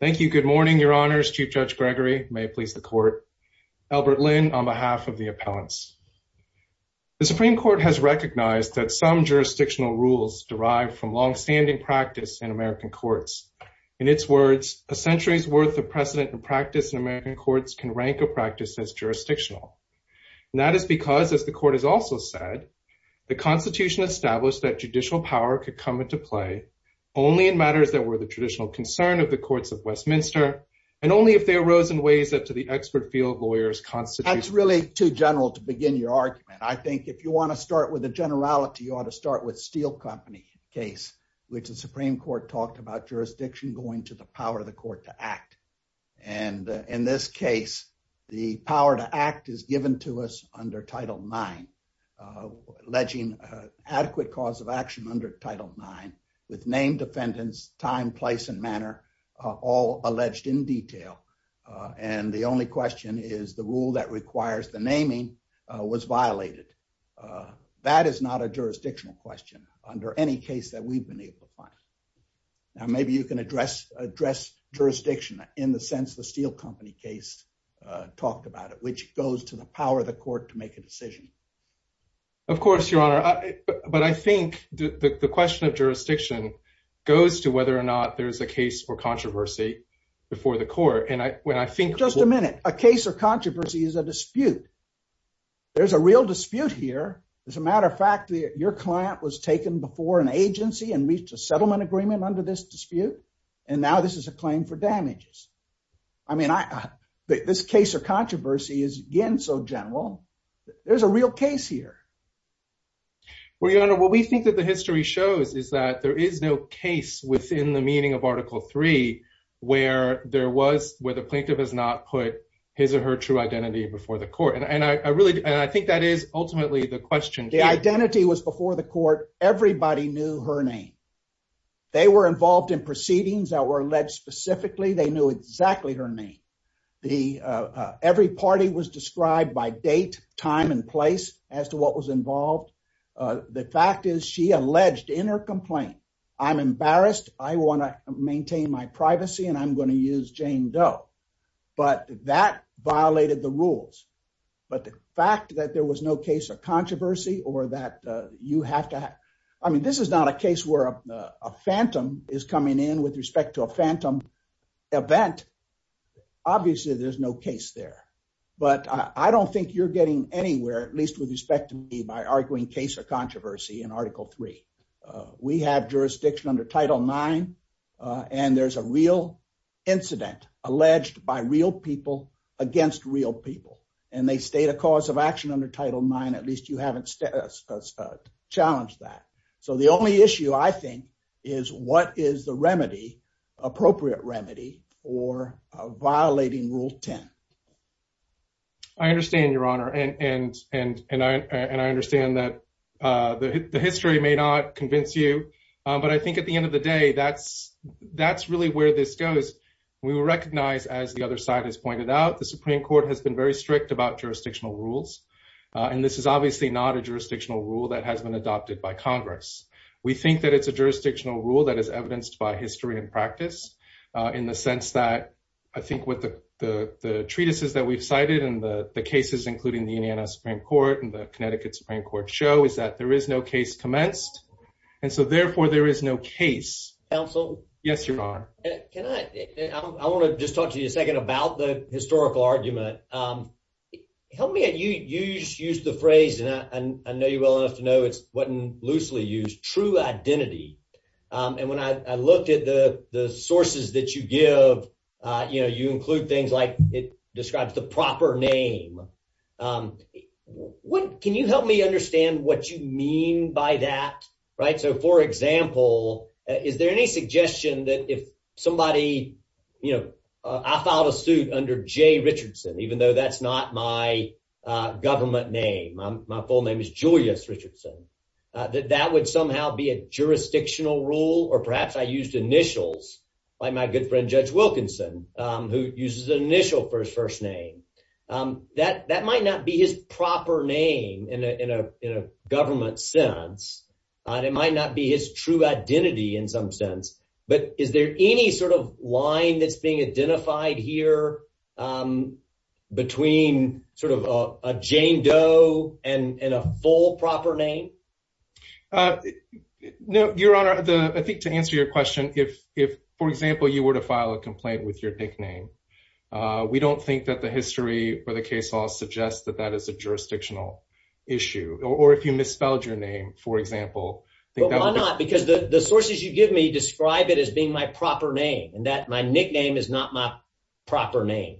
Thank you. Good morning, Your Honors. Chief Judge Gregory. May it please the Court. Albert Lin, on behalf of the appellants. The Supreme Court has recognized that some jurisdictional rules derive from long-standing practice in American courts. In its words, a century's worth of precedent and practice in American courts can rank a practice as jurisdictional. And that is because, as the Court has also said, the Constitution established that judicial power could come into play only in matters that were the traditional concern of the courts of Westminster, and only if they arose in ways that, to the expert field lawyers, constitutes— That's really too general to begin your argument. I think if you want to start with the generality, you ought to start with the Steel Company case, which the Supreme Court talked about jurisdiction going to the power of the court to act. And in this case, the power to act is given to us under Title IX, alleging adequate cause of action under Title IX, with name, defendants, time, place, and manner all alleged in detail. And the only question is the rule that requires the naming was violated. That is not a jurisdictional question under any case that we've been able to find. Now, maybe you can address jurisdiction in the sense the Steel Company case talked about it, which goes to the power of the court to make a decision. Of course, Your Honor. But I think the question of jurisdiction goes to whether or not there's a case for controversy before the court. And when I think— Just a minute. A case of controversy is a dispute. There's a real dispute here. As a matter of fact, your client was taken before an agency and reached a settlement agreement under this dispute, and now this is a claim for damages. I mean, this case of controversy is, again, so general. There's a real case here. Well, Your Honor, what we think that the history shows is that there is no case within the meaning of Article III where the plaintiff has not put his or her true identity before the court. And I think that is ultimately the question. The identity was before the court. Everybody knew her name. They were involved in proceedings that were alleged specifically. They knew exactly her name. Every party was described by date, time, and place as to what was involved. The fact is she alleged in her complaint, I'm embarrassed. I want to maintain my privacy, and I'm going to use Jane Doe. But that violated the rules. But the fact that there was no case of controversy or that you have to have, I mean, this is not a case where a phantom is coming in with respect to a phantom event. Obviously, there's no case there. But I don't think you're getting anywhere, at least with respect to me, by arguing case of controversy in Article III. We have jurisdiction under Title IX, and there's a real incident alleged by real people against real people. And they state a cause of action under Title IX. At least you haven't challenged that. So the only issue, I think, is what is the remedy, appropriate remedy, for violating Rule 10. I understand, Your Honor. And I understand that the history may not convince you. But I think at the end of the day, that's really where this goes. We will recognize, as the other side has said, that the Connecticut Supreme Court has been very strict about jurisdictional rules. And this is obviously not a jurisdictional rule that has been adopted by Congress. We think that it's a jurisdictional rule that is evidenced by history and practice, in the sense that I think what the treatises that we've cited and the cases, including the Indiana Supreme Court and the Connecticut Supreme Court, show is that there is no case commenced. And so, therefore, there is no case. Counsel? Yes, Your Honor. Can I, I want to just talk to you a second about the historical argument. Help me, and you used the phrase, and I know you well enough to know it wasn't loosely used, true identity. And when I looked at the sources that you give, you know, you include things like it describes the proper name. Can you help me understand what you mean by that, right? So, for example, is there any suggestion that if somebody, you know, I filed a suit under Jay Richardson, even though that's not my government name, my full name is Julius Richardson, that that would somehow be a jurisdictional rule? Or perhaps I used initials, like my good friend Judge Wilkinson, who uses an initial for his first name. That might not be his proper name in a government sense, and it might not be his true identity in some sense. But is there any sort of line that's being identified here between sort of a Jane Doe and a full proper name? No, Your Honor. I think to answer your question, if, for example, you were to file a complaint with your nickname, we don't think that the history or the case law suggests that that is a jurisdictional issue. Or if you misspelled your name, for example. Why not? Because the sources you give me describe it as being my proper name, and that my nickname is not my proper name.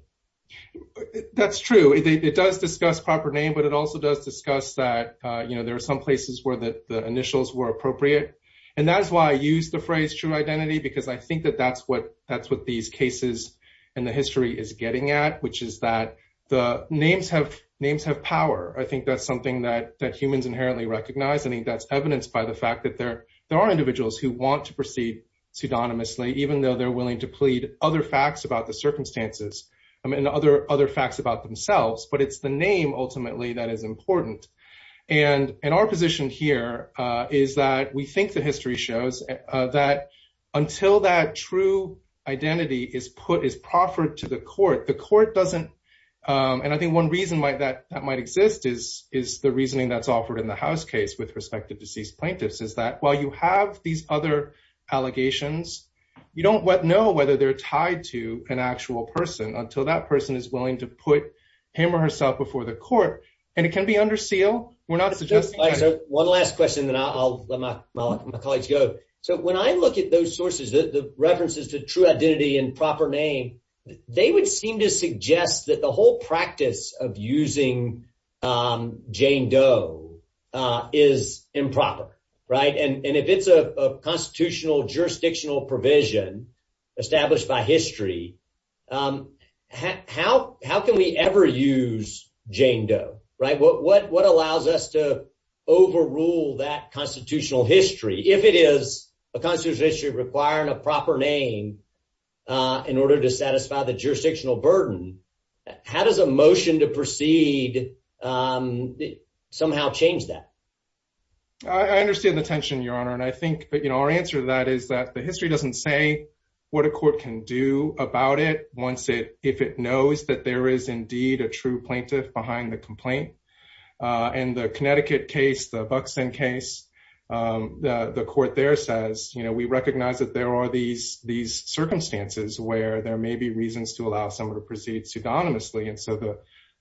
That's true. It does discuss proper name, but it also does discuss that, you know, there are some places where the initials were appropriate. And that's why I use the phrase true identity, because I think that that's what these cases in the history is getting at, which is that the names have power. I think that's something that humans inherently recognize. I think that's evidenced by the fact that there are individuals who want to proceed pseudonymously, even though they're willing to plead other facts about the circumstances and other facts about themselves. But it's the name, ultimately, that is important. And our position here is that we until that true identity is put, is proffered to the court, the court doesn't. And I think one reason that might exist is the reasoning that's offered in the house case with respect to deceased plaintiffs, is that while you have these other allegations, you don't know whether they're tied to an actual person until that person is willing to put him or herself before the court. And it can be under seal. We're not suggesting that. One last question, then I'll let my colleagues go. So when I look at those sources, the references to true identity and proper name, they would seem to suggest that the whole practice of using Jane Doe is improper, right? And if it's a constitutional jurisdictional provision established by history, how can we ever use Jane Doe, right? What allows us to overrule that constitutional history, if it is a constitutional history requiring a proper name, in order to satisfy the jurisdictional burden? How does a motion to proceed somehow change that? I understand the tension, Your Honor. And I think that, you know, our answer to that is that the history doesn't say what a court can do about it once it, if it knows that there is indeed a true plaintiff behind the court there says, you know, we recognize that there are these circumstances where there may be reasons to allow someone to proceed pseudonymously. And so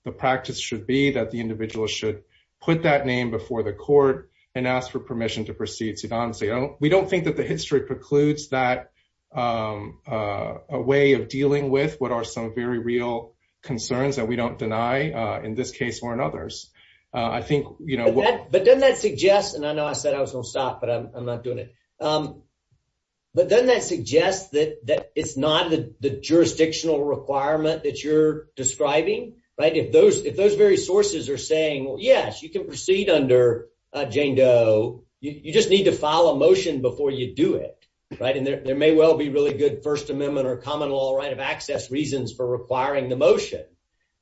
the practice should be that the individual should put that name before the court and ask for permission to proceed pseudonymously. We don't think that the history precludes that a way of dealing with what are some very real concerns that we don't deny in this case or in others. I think, you know, but doesn't that suggest, and I know I said I was going to stop, but I'm not doing it. But doesn't that suggest that it's not the jurisdictional requirement that you're describing, right? If those very sources are saying, well, yes, you can proceed under Jane Doe. You just need to file a motion before you do it, right? And there may well be really good First Amendment or common law right of access reasons for requiring the motion.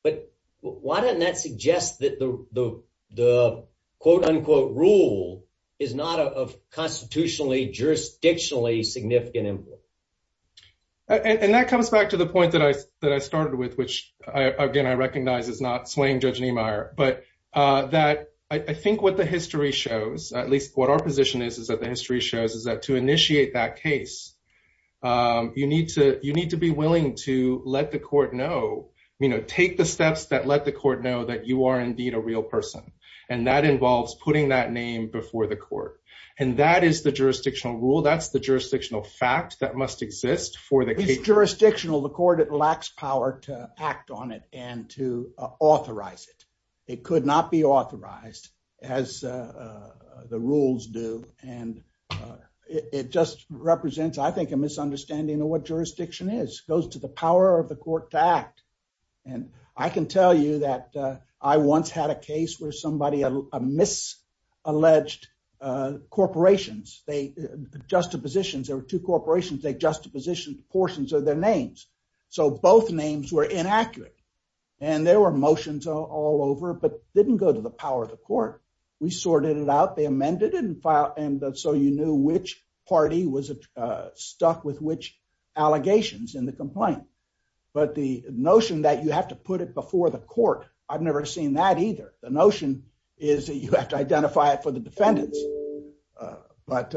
But why doesn't that suggest that the quote unquote rule is not of constitutionally, jurisdictionally significant influence? And that comes back to the point that I started with, which again, I recognize is not slaying Judge Niemeyer, but that I think what the history shows, at least what our position is, is that the history shows is that to initiate that case, you need to be willing to let the court know, you know, take the steps that let the court know that you are indeed a real person. And that involves putting that name before the court. And that is the jurisdictional rule. That's the jurisdictional fact that must exist for the case. It's jurisdictional. The court, it lacks power to act on it and to authorize it. It could not be authorized as the rules do. And it just represents, I think, a misunderstanding of what jurisdiction is. It goes to the power of the court to act. And I can tell you that I once had a case where somebody, a misalleged corporations, they, juxtapositions, there were two corporations, they juxtapositioned portions of their names. So both names were inaccurate. And there were the power of the court. We sorted it out. They amended it and filed. And so you knew which party was stuck with which allegations in the complaint. But the notion that you have to put it before the court, I've never seen that either. The notion is that you have to identify it for the defendants. But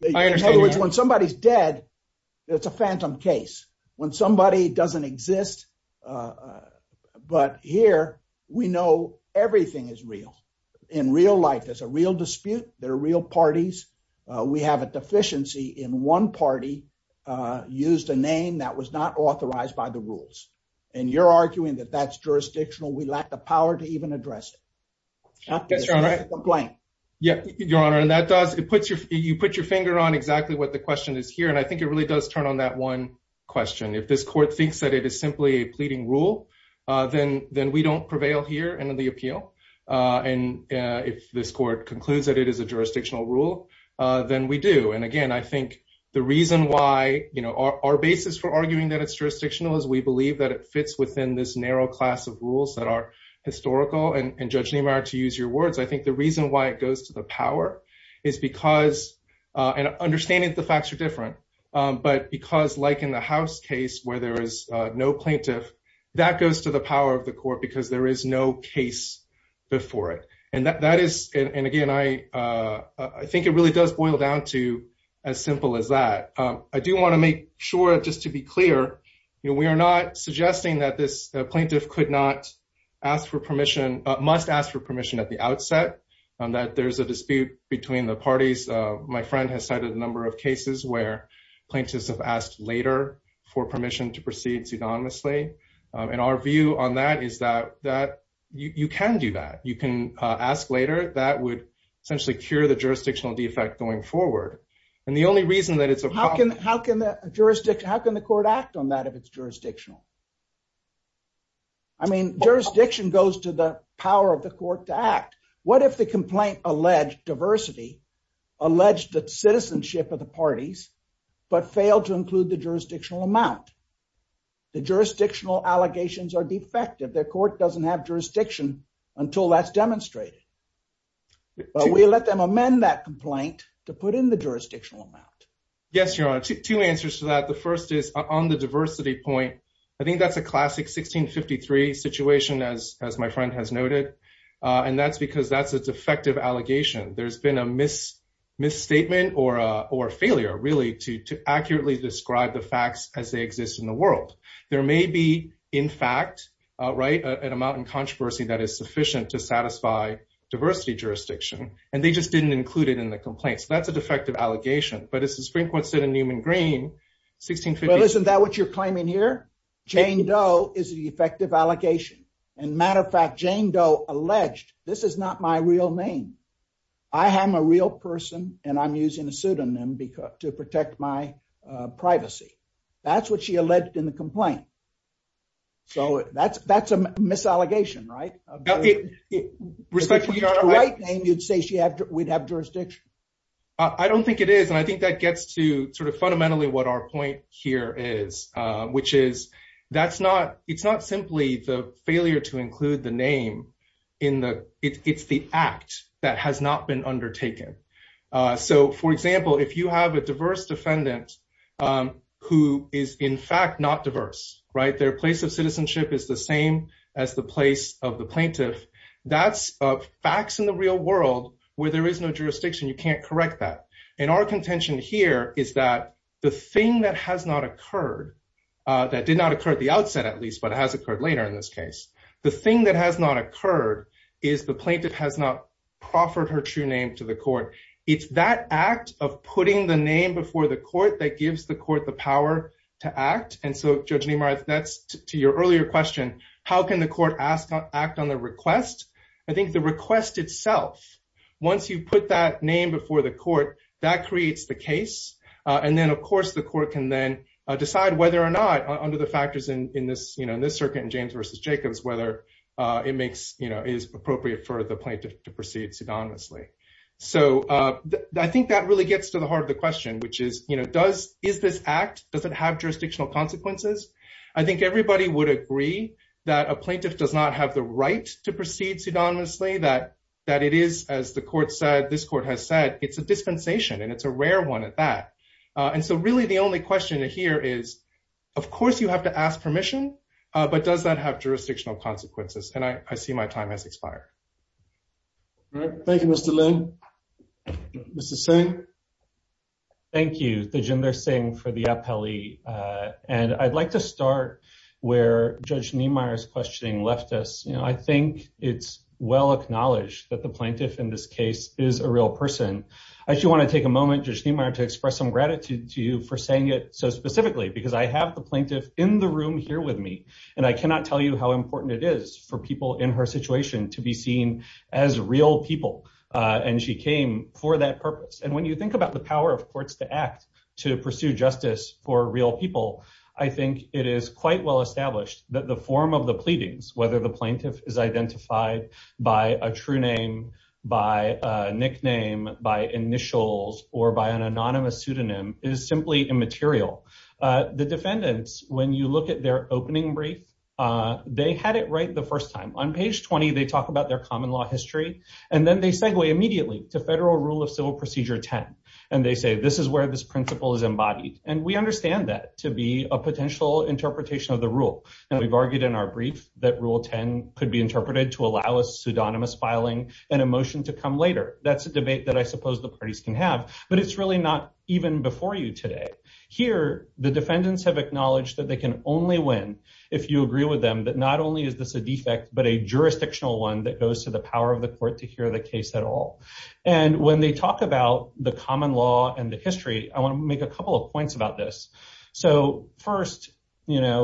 when somebody's dead, it's a phantom case when somebody doesn't exist. But here, we know everything is real. In real life, there's a real dispute. There are real parties. We have a deficiency in one party used a name that was not authorized by the rules. And you're arguing that that's jurisdictional. We lack the power to even address it. Not to address the complaint. Yeah, Your Honor. And that does, it puts your, you put your finger on exactly what the question is here. And I think it really does turn on that one question. If this court thinks that it is a pleading rule, then we don't prevail here in the appeal. And if this court concludes that it is a jurisdictional rule, then we do. And again, I think the reason why, you know, our basis for arguing that it's jurisdictional is we believe that it fits within this narrow class of rules that are historical. And Judge Niemeyer, to use your words, I think the reason why it goes to the power is because, and understanding the facts are different, but because like in the House case, where there is no plaintiff, that goes to the power of the court because there is no case before it. And that is, and again, I think it really does boil down to as simple as that. I do want to make sure just to be clear, you know, we are not suggesting that this plaintiff could not ask for permission, must ask for permission at the outset, that there's a dispute between the parties. My friend has cited a number of cases where plaintiffs have asked later for permission to proceed pseudonymously. And our view on that is that you can do that. You can ask later, that would essentially cure the jurisdictional defect going forward. And the only reason that it's a problem- How can the court act on that if it's jurisdictional? I mean, jurisdiction goes to the power of the court to act. What if the complaint alleged diversity alleged the citizenship of the parties, but failed to include the jurisdictional amount? The jurisdictional allegations are defective. The court doesn't have jurisdiction until that's demonstrated. We let them amend that complaint to put in the jurisdictional amount. Yes, Your Honor. Two answers to that. The first is on the diversity point. I think that's a classic 1653 situation as my friend has noted. And that's because that's a defective allegation. There's a misstatement or a failure really to accurately describe the facts as they exist in the world. There may be, in fact, at a mountain controversy that is sufficient to satisfy diversity jurisdiction, and they just didn't include it in the complaints. That's a defective allegation. But as the Supreme Court said in Newman Green, 1653- Well, isn't that what you're claiming here? Jane Doe is the effective allegation. And matter of fact, Jane Doe alleged, this is not my real name. I am a real person, and I'm using a pseudonym to protect my privacy. That's what she alleged in the complaint. So that's a misallegation, right? Respect to your right name, you'd say we'd have jurisdiction. I don't think it is. And I think that gets to sort of fundamentally what our point here is, which is it's not simply the failure to include the name. It's the act that has not been undertaken. So for example, if you have a diverse defendant who is in fact not diverse, their place of citizenship is the same as the place of the plaintiff, that's facts in the real world where there is no jurisdiction. You can't correct that. And our contention here is that the thing that has not occurred, that did not occur at the outset, at least, but it has occurred later in this case, the thing that has not occurred is the plaintiff has not proffered her true name to the court. It's that act of putting the name before the court that gives the court the power to act. And so Judge Nimar, that's to your earlier question, how can the court act on the request? I think the request itself, once you put that name before the court, that creates the case. And then, of course, the court can then decide whether or not, under the factors in this circuit in James v. Jacobs, whether it is appropriate for the plaintiff to proceed pseudonymously. So I think that really gets to the heart of the question, which is, is this act, does it have jurisdictional consequences? I think everybody would agree that a plaintiff does not have the right to proceed pseudonymously, that it is, as the court said, it's a dispensation, and it's a rare one at that. And so really, the only question here is, of course, you have to ask permission, but does that have jurisdictional consequences? And I see my time has expired. Thank you, Mr. Lin. Mr. Singh? Thank you, Thijinder Singh, for the appellee. And I'd like to start where Judge Nimar's leftist, you know, I think it's well acknowledged that the plaintiff in this case is a real person. I just want to take a moment, Judge Nimar, to express some gratitude to you for saying it so specifically, because I have the plaintiff in the room here with me. And I cannot tell you how important it is for people in her situation to be seen as real people. And she came for that purpose. And when you think about the power of courts to act, to pursue justice for real people, I think it is quite well established that the form of the pleadings, whether the plaintiff is identified by a true name, by a nickname, by initials, or by an anonymous pseudonym, is simply immaterial. The defendants, when you look at their opening brief, they had it right the first time. On page 20, they talk about their common law history. And then they segue immediately to Federal Rule of Civil Procedure 10. And they say, this is where this principle is embodied. And we understand that to be a potential interpretation of the rule. And we've argued in our brief that Rule 10 could be interpreted to allow a pseudonymous filing and a motion to come later. That's a debate that I suppose the parties can have. But it's really not even before you today. Here, the defendants have acknowledged that they can only win if you agree with them that not only is this a defect, but a jurisdictional one that goes to the power of the court to hear the case at all. And when they talk about the law and the history, I want to make a couple of points about this. So first, the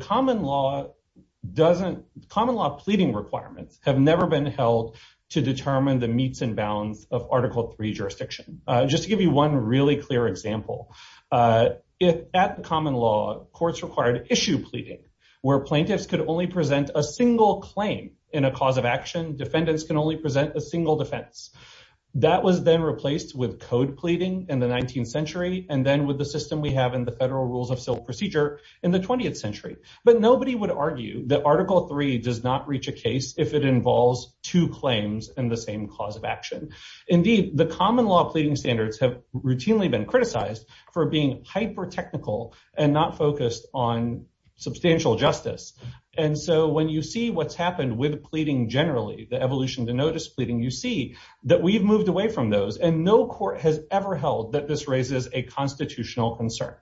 common law pleading requirements have never been held to determine the meets and bounds of Article III jurisdiction. Just to give you one really clear example, at the common law, courts required issue pleading, where plaintiffs could only present a single claim in a cause of action. Defendants can only present a single defense. That was then replaced with code pleading in the 19th century, and then with the system we have in the Federal Rules of Civil Procedure in the 20th century. But nobody would argue that Article III does not reach a case if it involves two claims and the same cause of action. Indeed, the common law pleading standards have routinely been criticized for being hyper technical and not focused on substantial justice. And so when you see what's happened with pleading generally, the evolution to notice pleading, you see that we've moved away from those and no court has ever held that this raises a constitutional concern.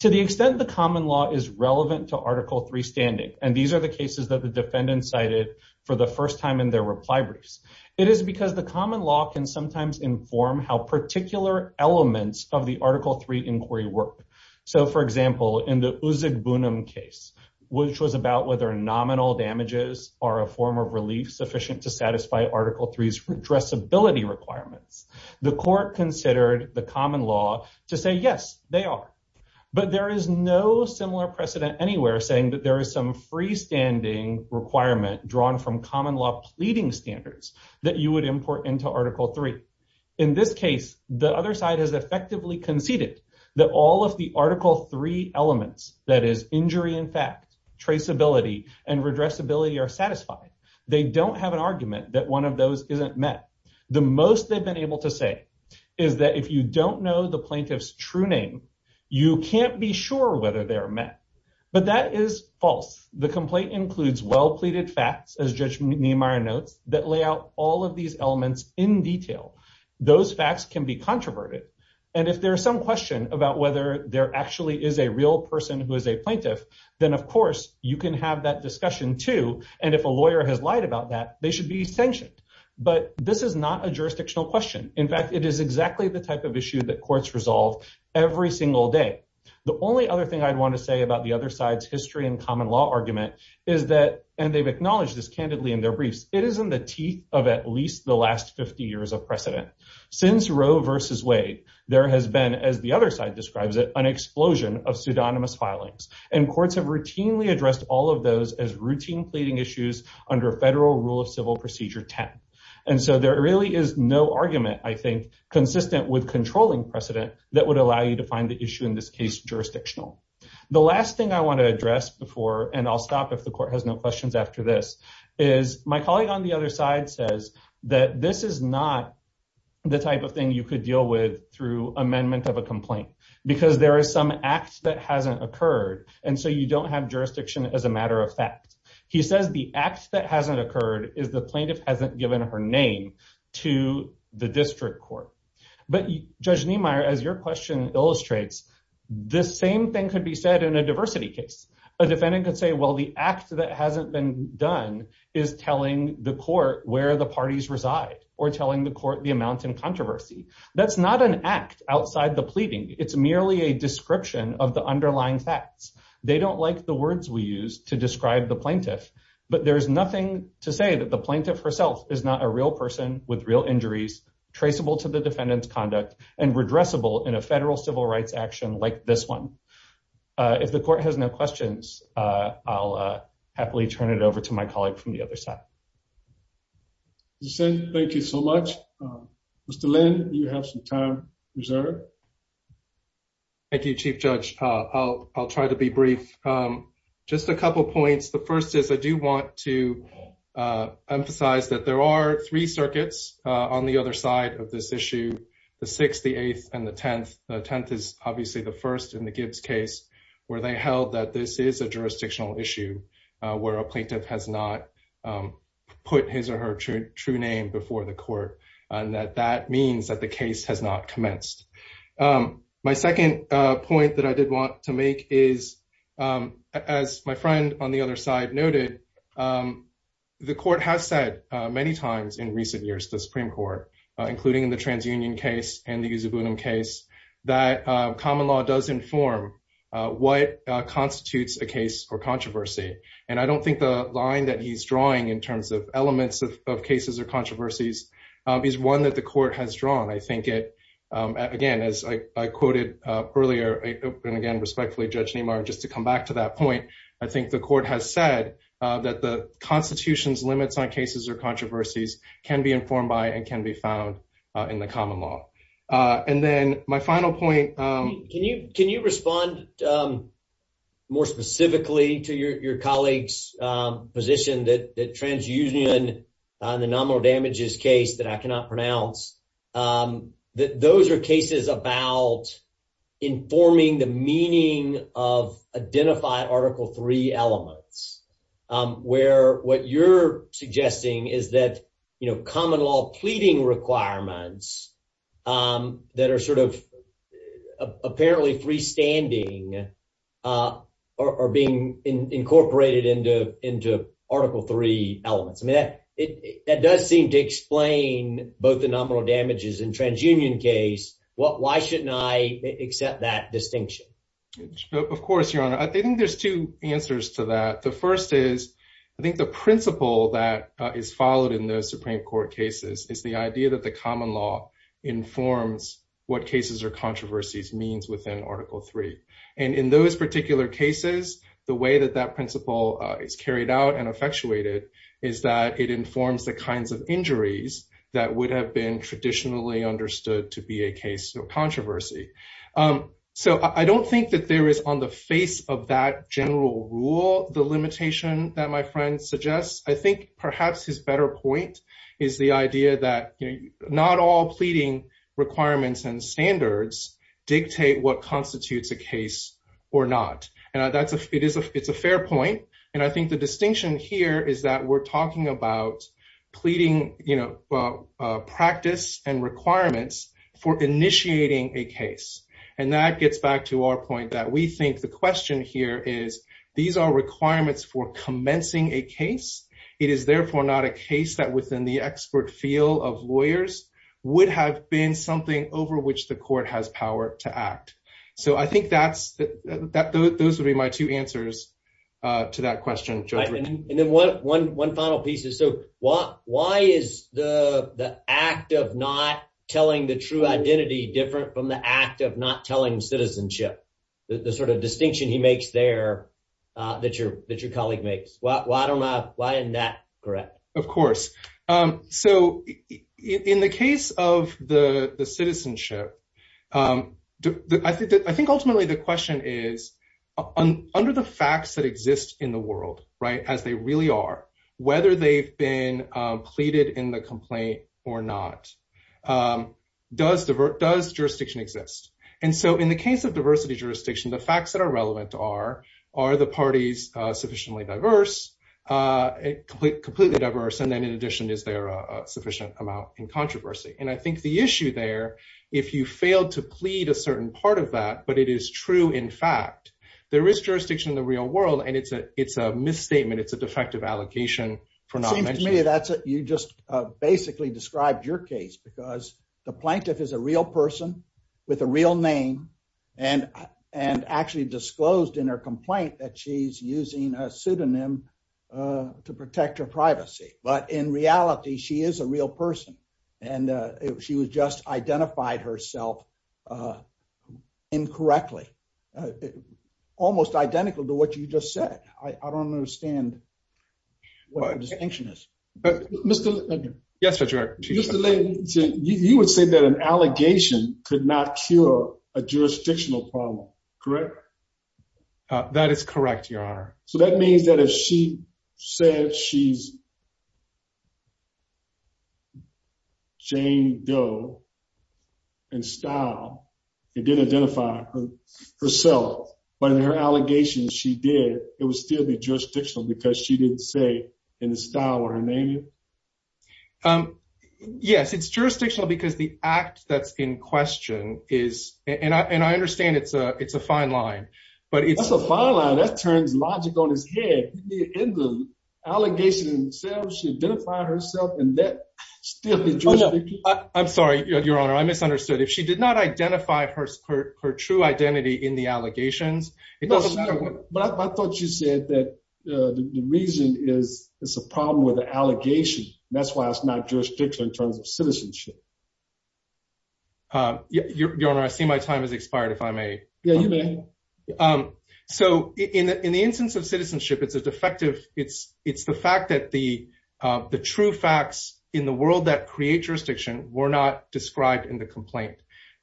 To the extent the common law is relevant to Article III standing, and these are the cases that the defendant cited for the first time in their reply briefs, it is because the common law can sometimes inform how particular elements of the Article III inquiry work. So for example, in the Uzug Bunam case, which was about whether nominal damages are a form of relief sufficient to satisfy Article III's redressability requirements, the court considered the common law to say yes, they are. But there is no similar precedent anywhere saying that there is some freestanding requirement drawn from common law pleading standards that you would import into Article III. In this case, the other side has traceability and redressability are satisfied. They don't have an argument that one of those isn't met. The most they've been able to say is that if you don't know the plaintiff's true name, you can't be sure whether they are met. But that is false. The complaint includes well pleaded facts, as Judge Niemeyer notes, that lay out all of these elements in detail. Those facts can be controverted. And if there is some question about whether there actually is a real person who is a person, you can have that discussion too. And if a lawyer has lied about that, they should be sanctioned. But this is not a jurisdictional question. In fact, it is exactly the type of issue that courts resolve every single day. The only other thing I'd want to say about the other side's history and common law argument is that, and they've acknowledged this candidly in their briefs, it is in the teeth of at least the last 50 years of precedent. Since Roe versus Wade, there has been, as the other side describes it, an explosion of pseudonymous filings, and courts have routinely addressed all of those as routine pleading issues under federal rule of civil procedure 10. And so there really is no argument, I think, consistent with controlling precedent that would allow you to find the issue in this case jurisdictional. The last thing I want to address before, and I'll stop if the court has no questions after this, is my colleague on the other side says that this is not the type of thing you could deal with through amendment of a complaint because there is some act that hasn't occurred, and so you don't have jurisdiction as a matter of fact. He says the act that hasn't occurred is the plaintiff hasn't given her name to the district court. But Judge Niemeyer, as your question illustrates, the same thing could be said in a diversity case. A defendant could say, well, the act that hasn't been done is telling the court where the parties reside or telling the court the amount in controversy. That's not an act outside the pleading. It's merely a description of the underlying facts. They don't like the words we use to describe the plaintiff, but there's nothing to say that the plaintiff herself is not a real person with real injuries traceable to the defendant's conduct and redressable in a federal civil rights action like this one. If the court has no questions, I'll happily turn it over to my colleague from the other side. As I said, thank you so much. Mr. Lin, you have some time reserved. Thank you, Chief Judge. I'll try to be brief. Just a couple points. The first is I do want to emphasize that there are three circuits on the other side of this issue, the sixth, the eighth, and the tenth. The tenth is obviously the first in the Gibbs case where they held that this is a jurisdictional issue where a plaintiff has not put his or her true name before the court and that that means that the case has not commenced. My second point that I did want to make is, as my friend on the other side noted, the court has said many times in recent years to the Supreme Court, including in the TransUnion case and the Yusup Unum case, that common law does inform what constitutes a case or controversy. And I don't think the line that he's drawing in terms of elements of cases or controversies is one that the court has drawn. I think it, again, as I quoted earlier, and again respectfully, Judge Nimar, just to come back to that point, I think the court has said that the Constitution's limits on cases or controversies can be informed by and can be found in the common law. And then my final point. Can you respond more specifically to your colleague's position that TransUnion and the nominal damages case that I cannot pronounce, that those are cases about informing the meaning of identified Article III elements, where what you're suggesting is that common law pleading requirements that are sort of apparently freestanding are being incorporated into Article III elements? I mean, that does seem to explain both the nominal damages and TransUnion case. Why shouldn't I that distinction? Of course, Your Honor. I think there's two answers to that. The first is, I think the principle that is followed in those Supreme Court cases is the idea that the common law informs what cases or controversies means within Article III. And in those particular cases, the way that that principle is carried out and effectuated is that it informs the kinds of injuries that would have been traditionally understood to be a case of controversy. So I don't think that there is on the face of that general rule the limitation that my friend suggests. I think perhaps his better point is the idea that not all pleading requirements and standards dictate what constitutes a case or not. And it's a fair point. And I think the distinction here is that we're talking about pleading practice and requirements for initiating a case. And that gets back to our point that we think the question here is, these are requirements for commencing a case. It is therefore not a case that within the expert field of lawyers would have been something over which the court has power to act. So I think those would be my two answers to that question. And then one final piece is, so why is the act of not telling the true identity different from the act of not telling citizenship, the sort of distinction he makes there that your colleague makes? Why isn't that correct? Of course. So in the case of the citizenship, I think ultimately the question is, under the facts that exist in the world as they really are, whether they've been pleaded in the jurisdiction, does jurisdiction exist? And so in the case of diversity jurisdiction, the facts that are relevant are, are the parties sufficiently diverse, completely diverse? And then in addition, is there a sufficient amount in controversy? And I think the issue there, if you failed to plead a certain part of that, but it is true, in fact, there is jurisdiction in the real world. And it's a misstatement. It's a defective allocation for not mentioning. It seems to me that you just basically described your case because the plaintiff is a real person with a real name and actually disclosed in her complaint that she's using a pseudonym to protect her privacy. But in reality, she is a real person. And she was just identified herself incorrectly, almost identical to what you just said. I don't understand what the distinction is. Mr. Yes, sir. You would say that an allegation could not cure a jurisdictional problem, correct? That is correct, your honor. So that means that if she said she's Jane Doe and style, it didn't identify herself, but in her allegations she did, it would still be jurisdictional because she didn't say in the style or her name? Yes, it's jurisdictional because the act that's in question is, and I understand it's a fine line. But it's a fine line that turns logic on his head. In the allegation itself, she identified herself in that. I'm sorry, your honor, I misunderstood. If she did not identify her true identity in the that the reason is it's a problem with the allegation. That's why it's not jurisdictional in terms of citizenship. Your honor, I see my time has expired, if I may. So in the instance of citizenship, it's a defective. It's the fact that the true facts in the world that create jurisdiction were not described in the complaint.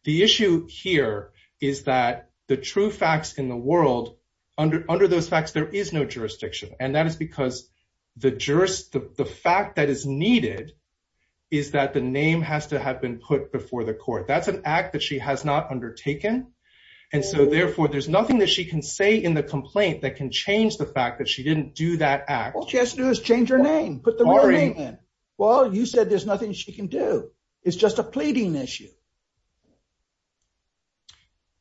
The issue here is that the true facts in the world, under those facts, there is no jurisdiction. And that is because the fact that is needed is that the name has to have been put before the court. That's an act that she has not undertaken. And so therefore, there's nothing that she can say in the complaint that can change the fact that she didn't do that act. All she has to do is change her name, put the real name in. Well, you said there's nothing she can do. It's just a pleading issue.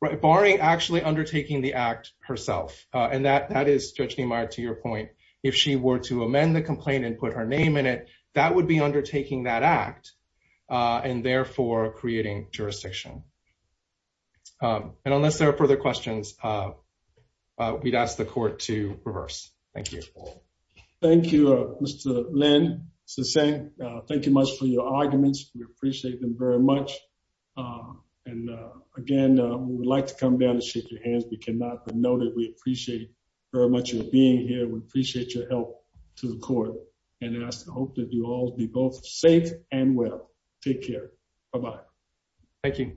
Right, barring actually undertaking the act herself. And that is, Judge Niemeyer, to your point, if she were to amend the complaint and put her name in it, that would be undertaking that act and therefore creating jurisdiction. And unless there are further questions, we'd ask the court to reverse. Thank you. Thank you, Mr. Lin. Thank you much for your arguments. We appreciate them very much. And again, we'd like to come down and shake your hands. We cannot but know that we appreciate very much your being here. We appreciate your help to the court. And I hope that you all be both safe and well. Take care. Bye-bye. Thank you.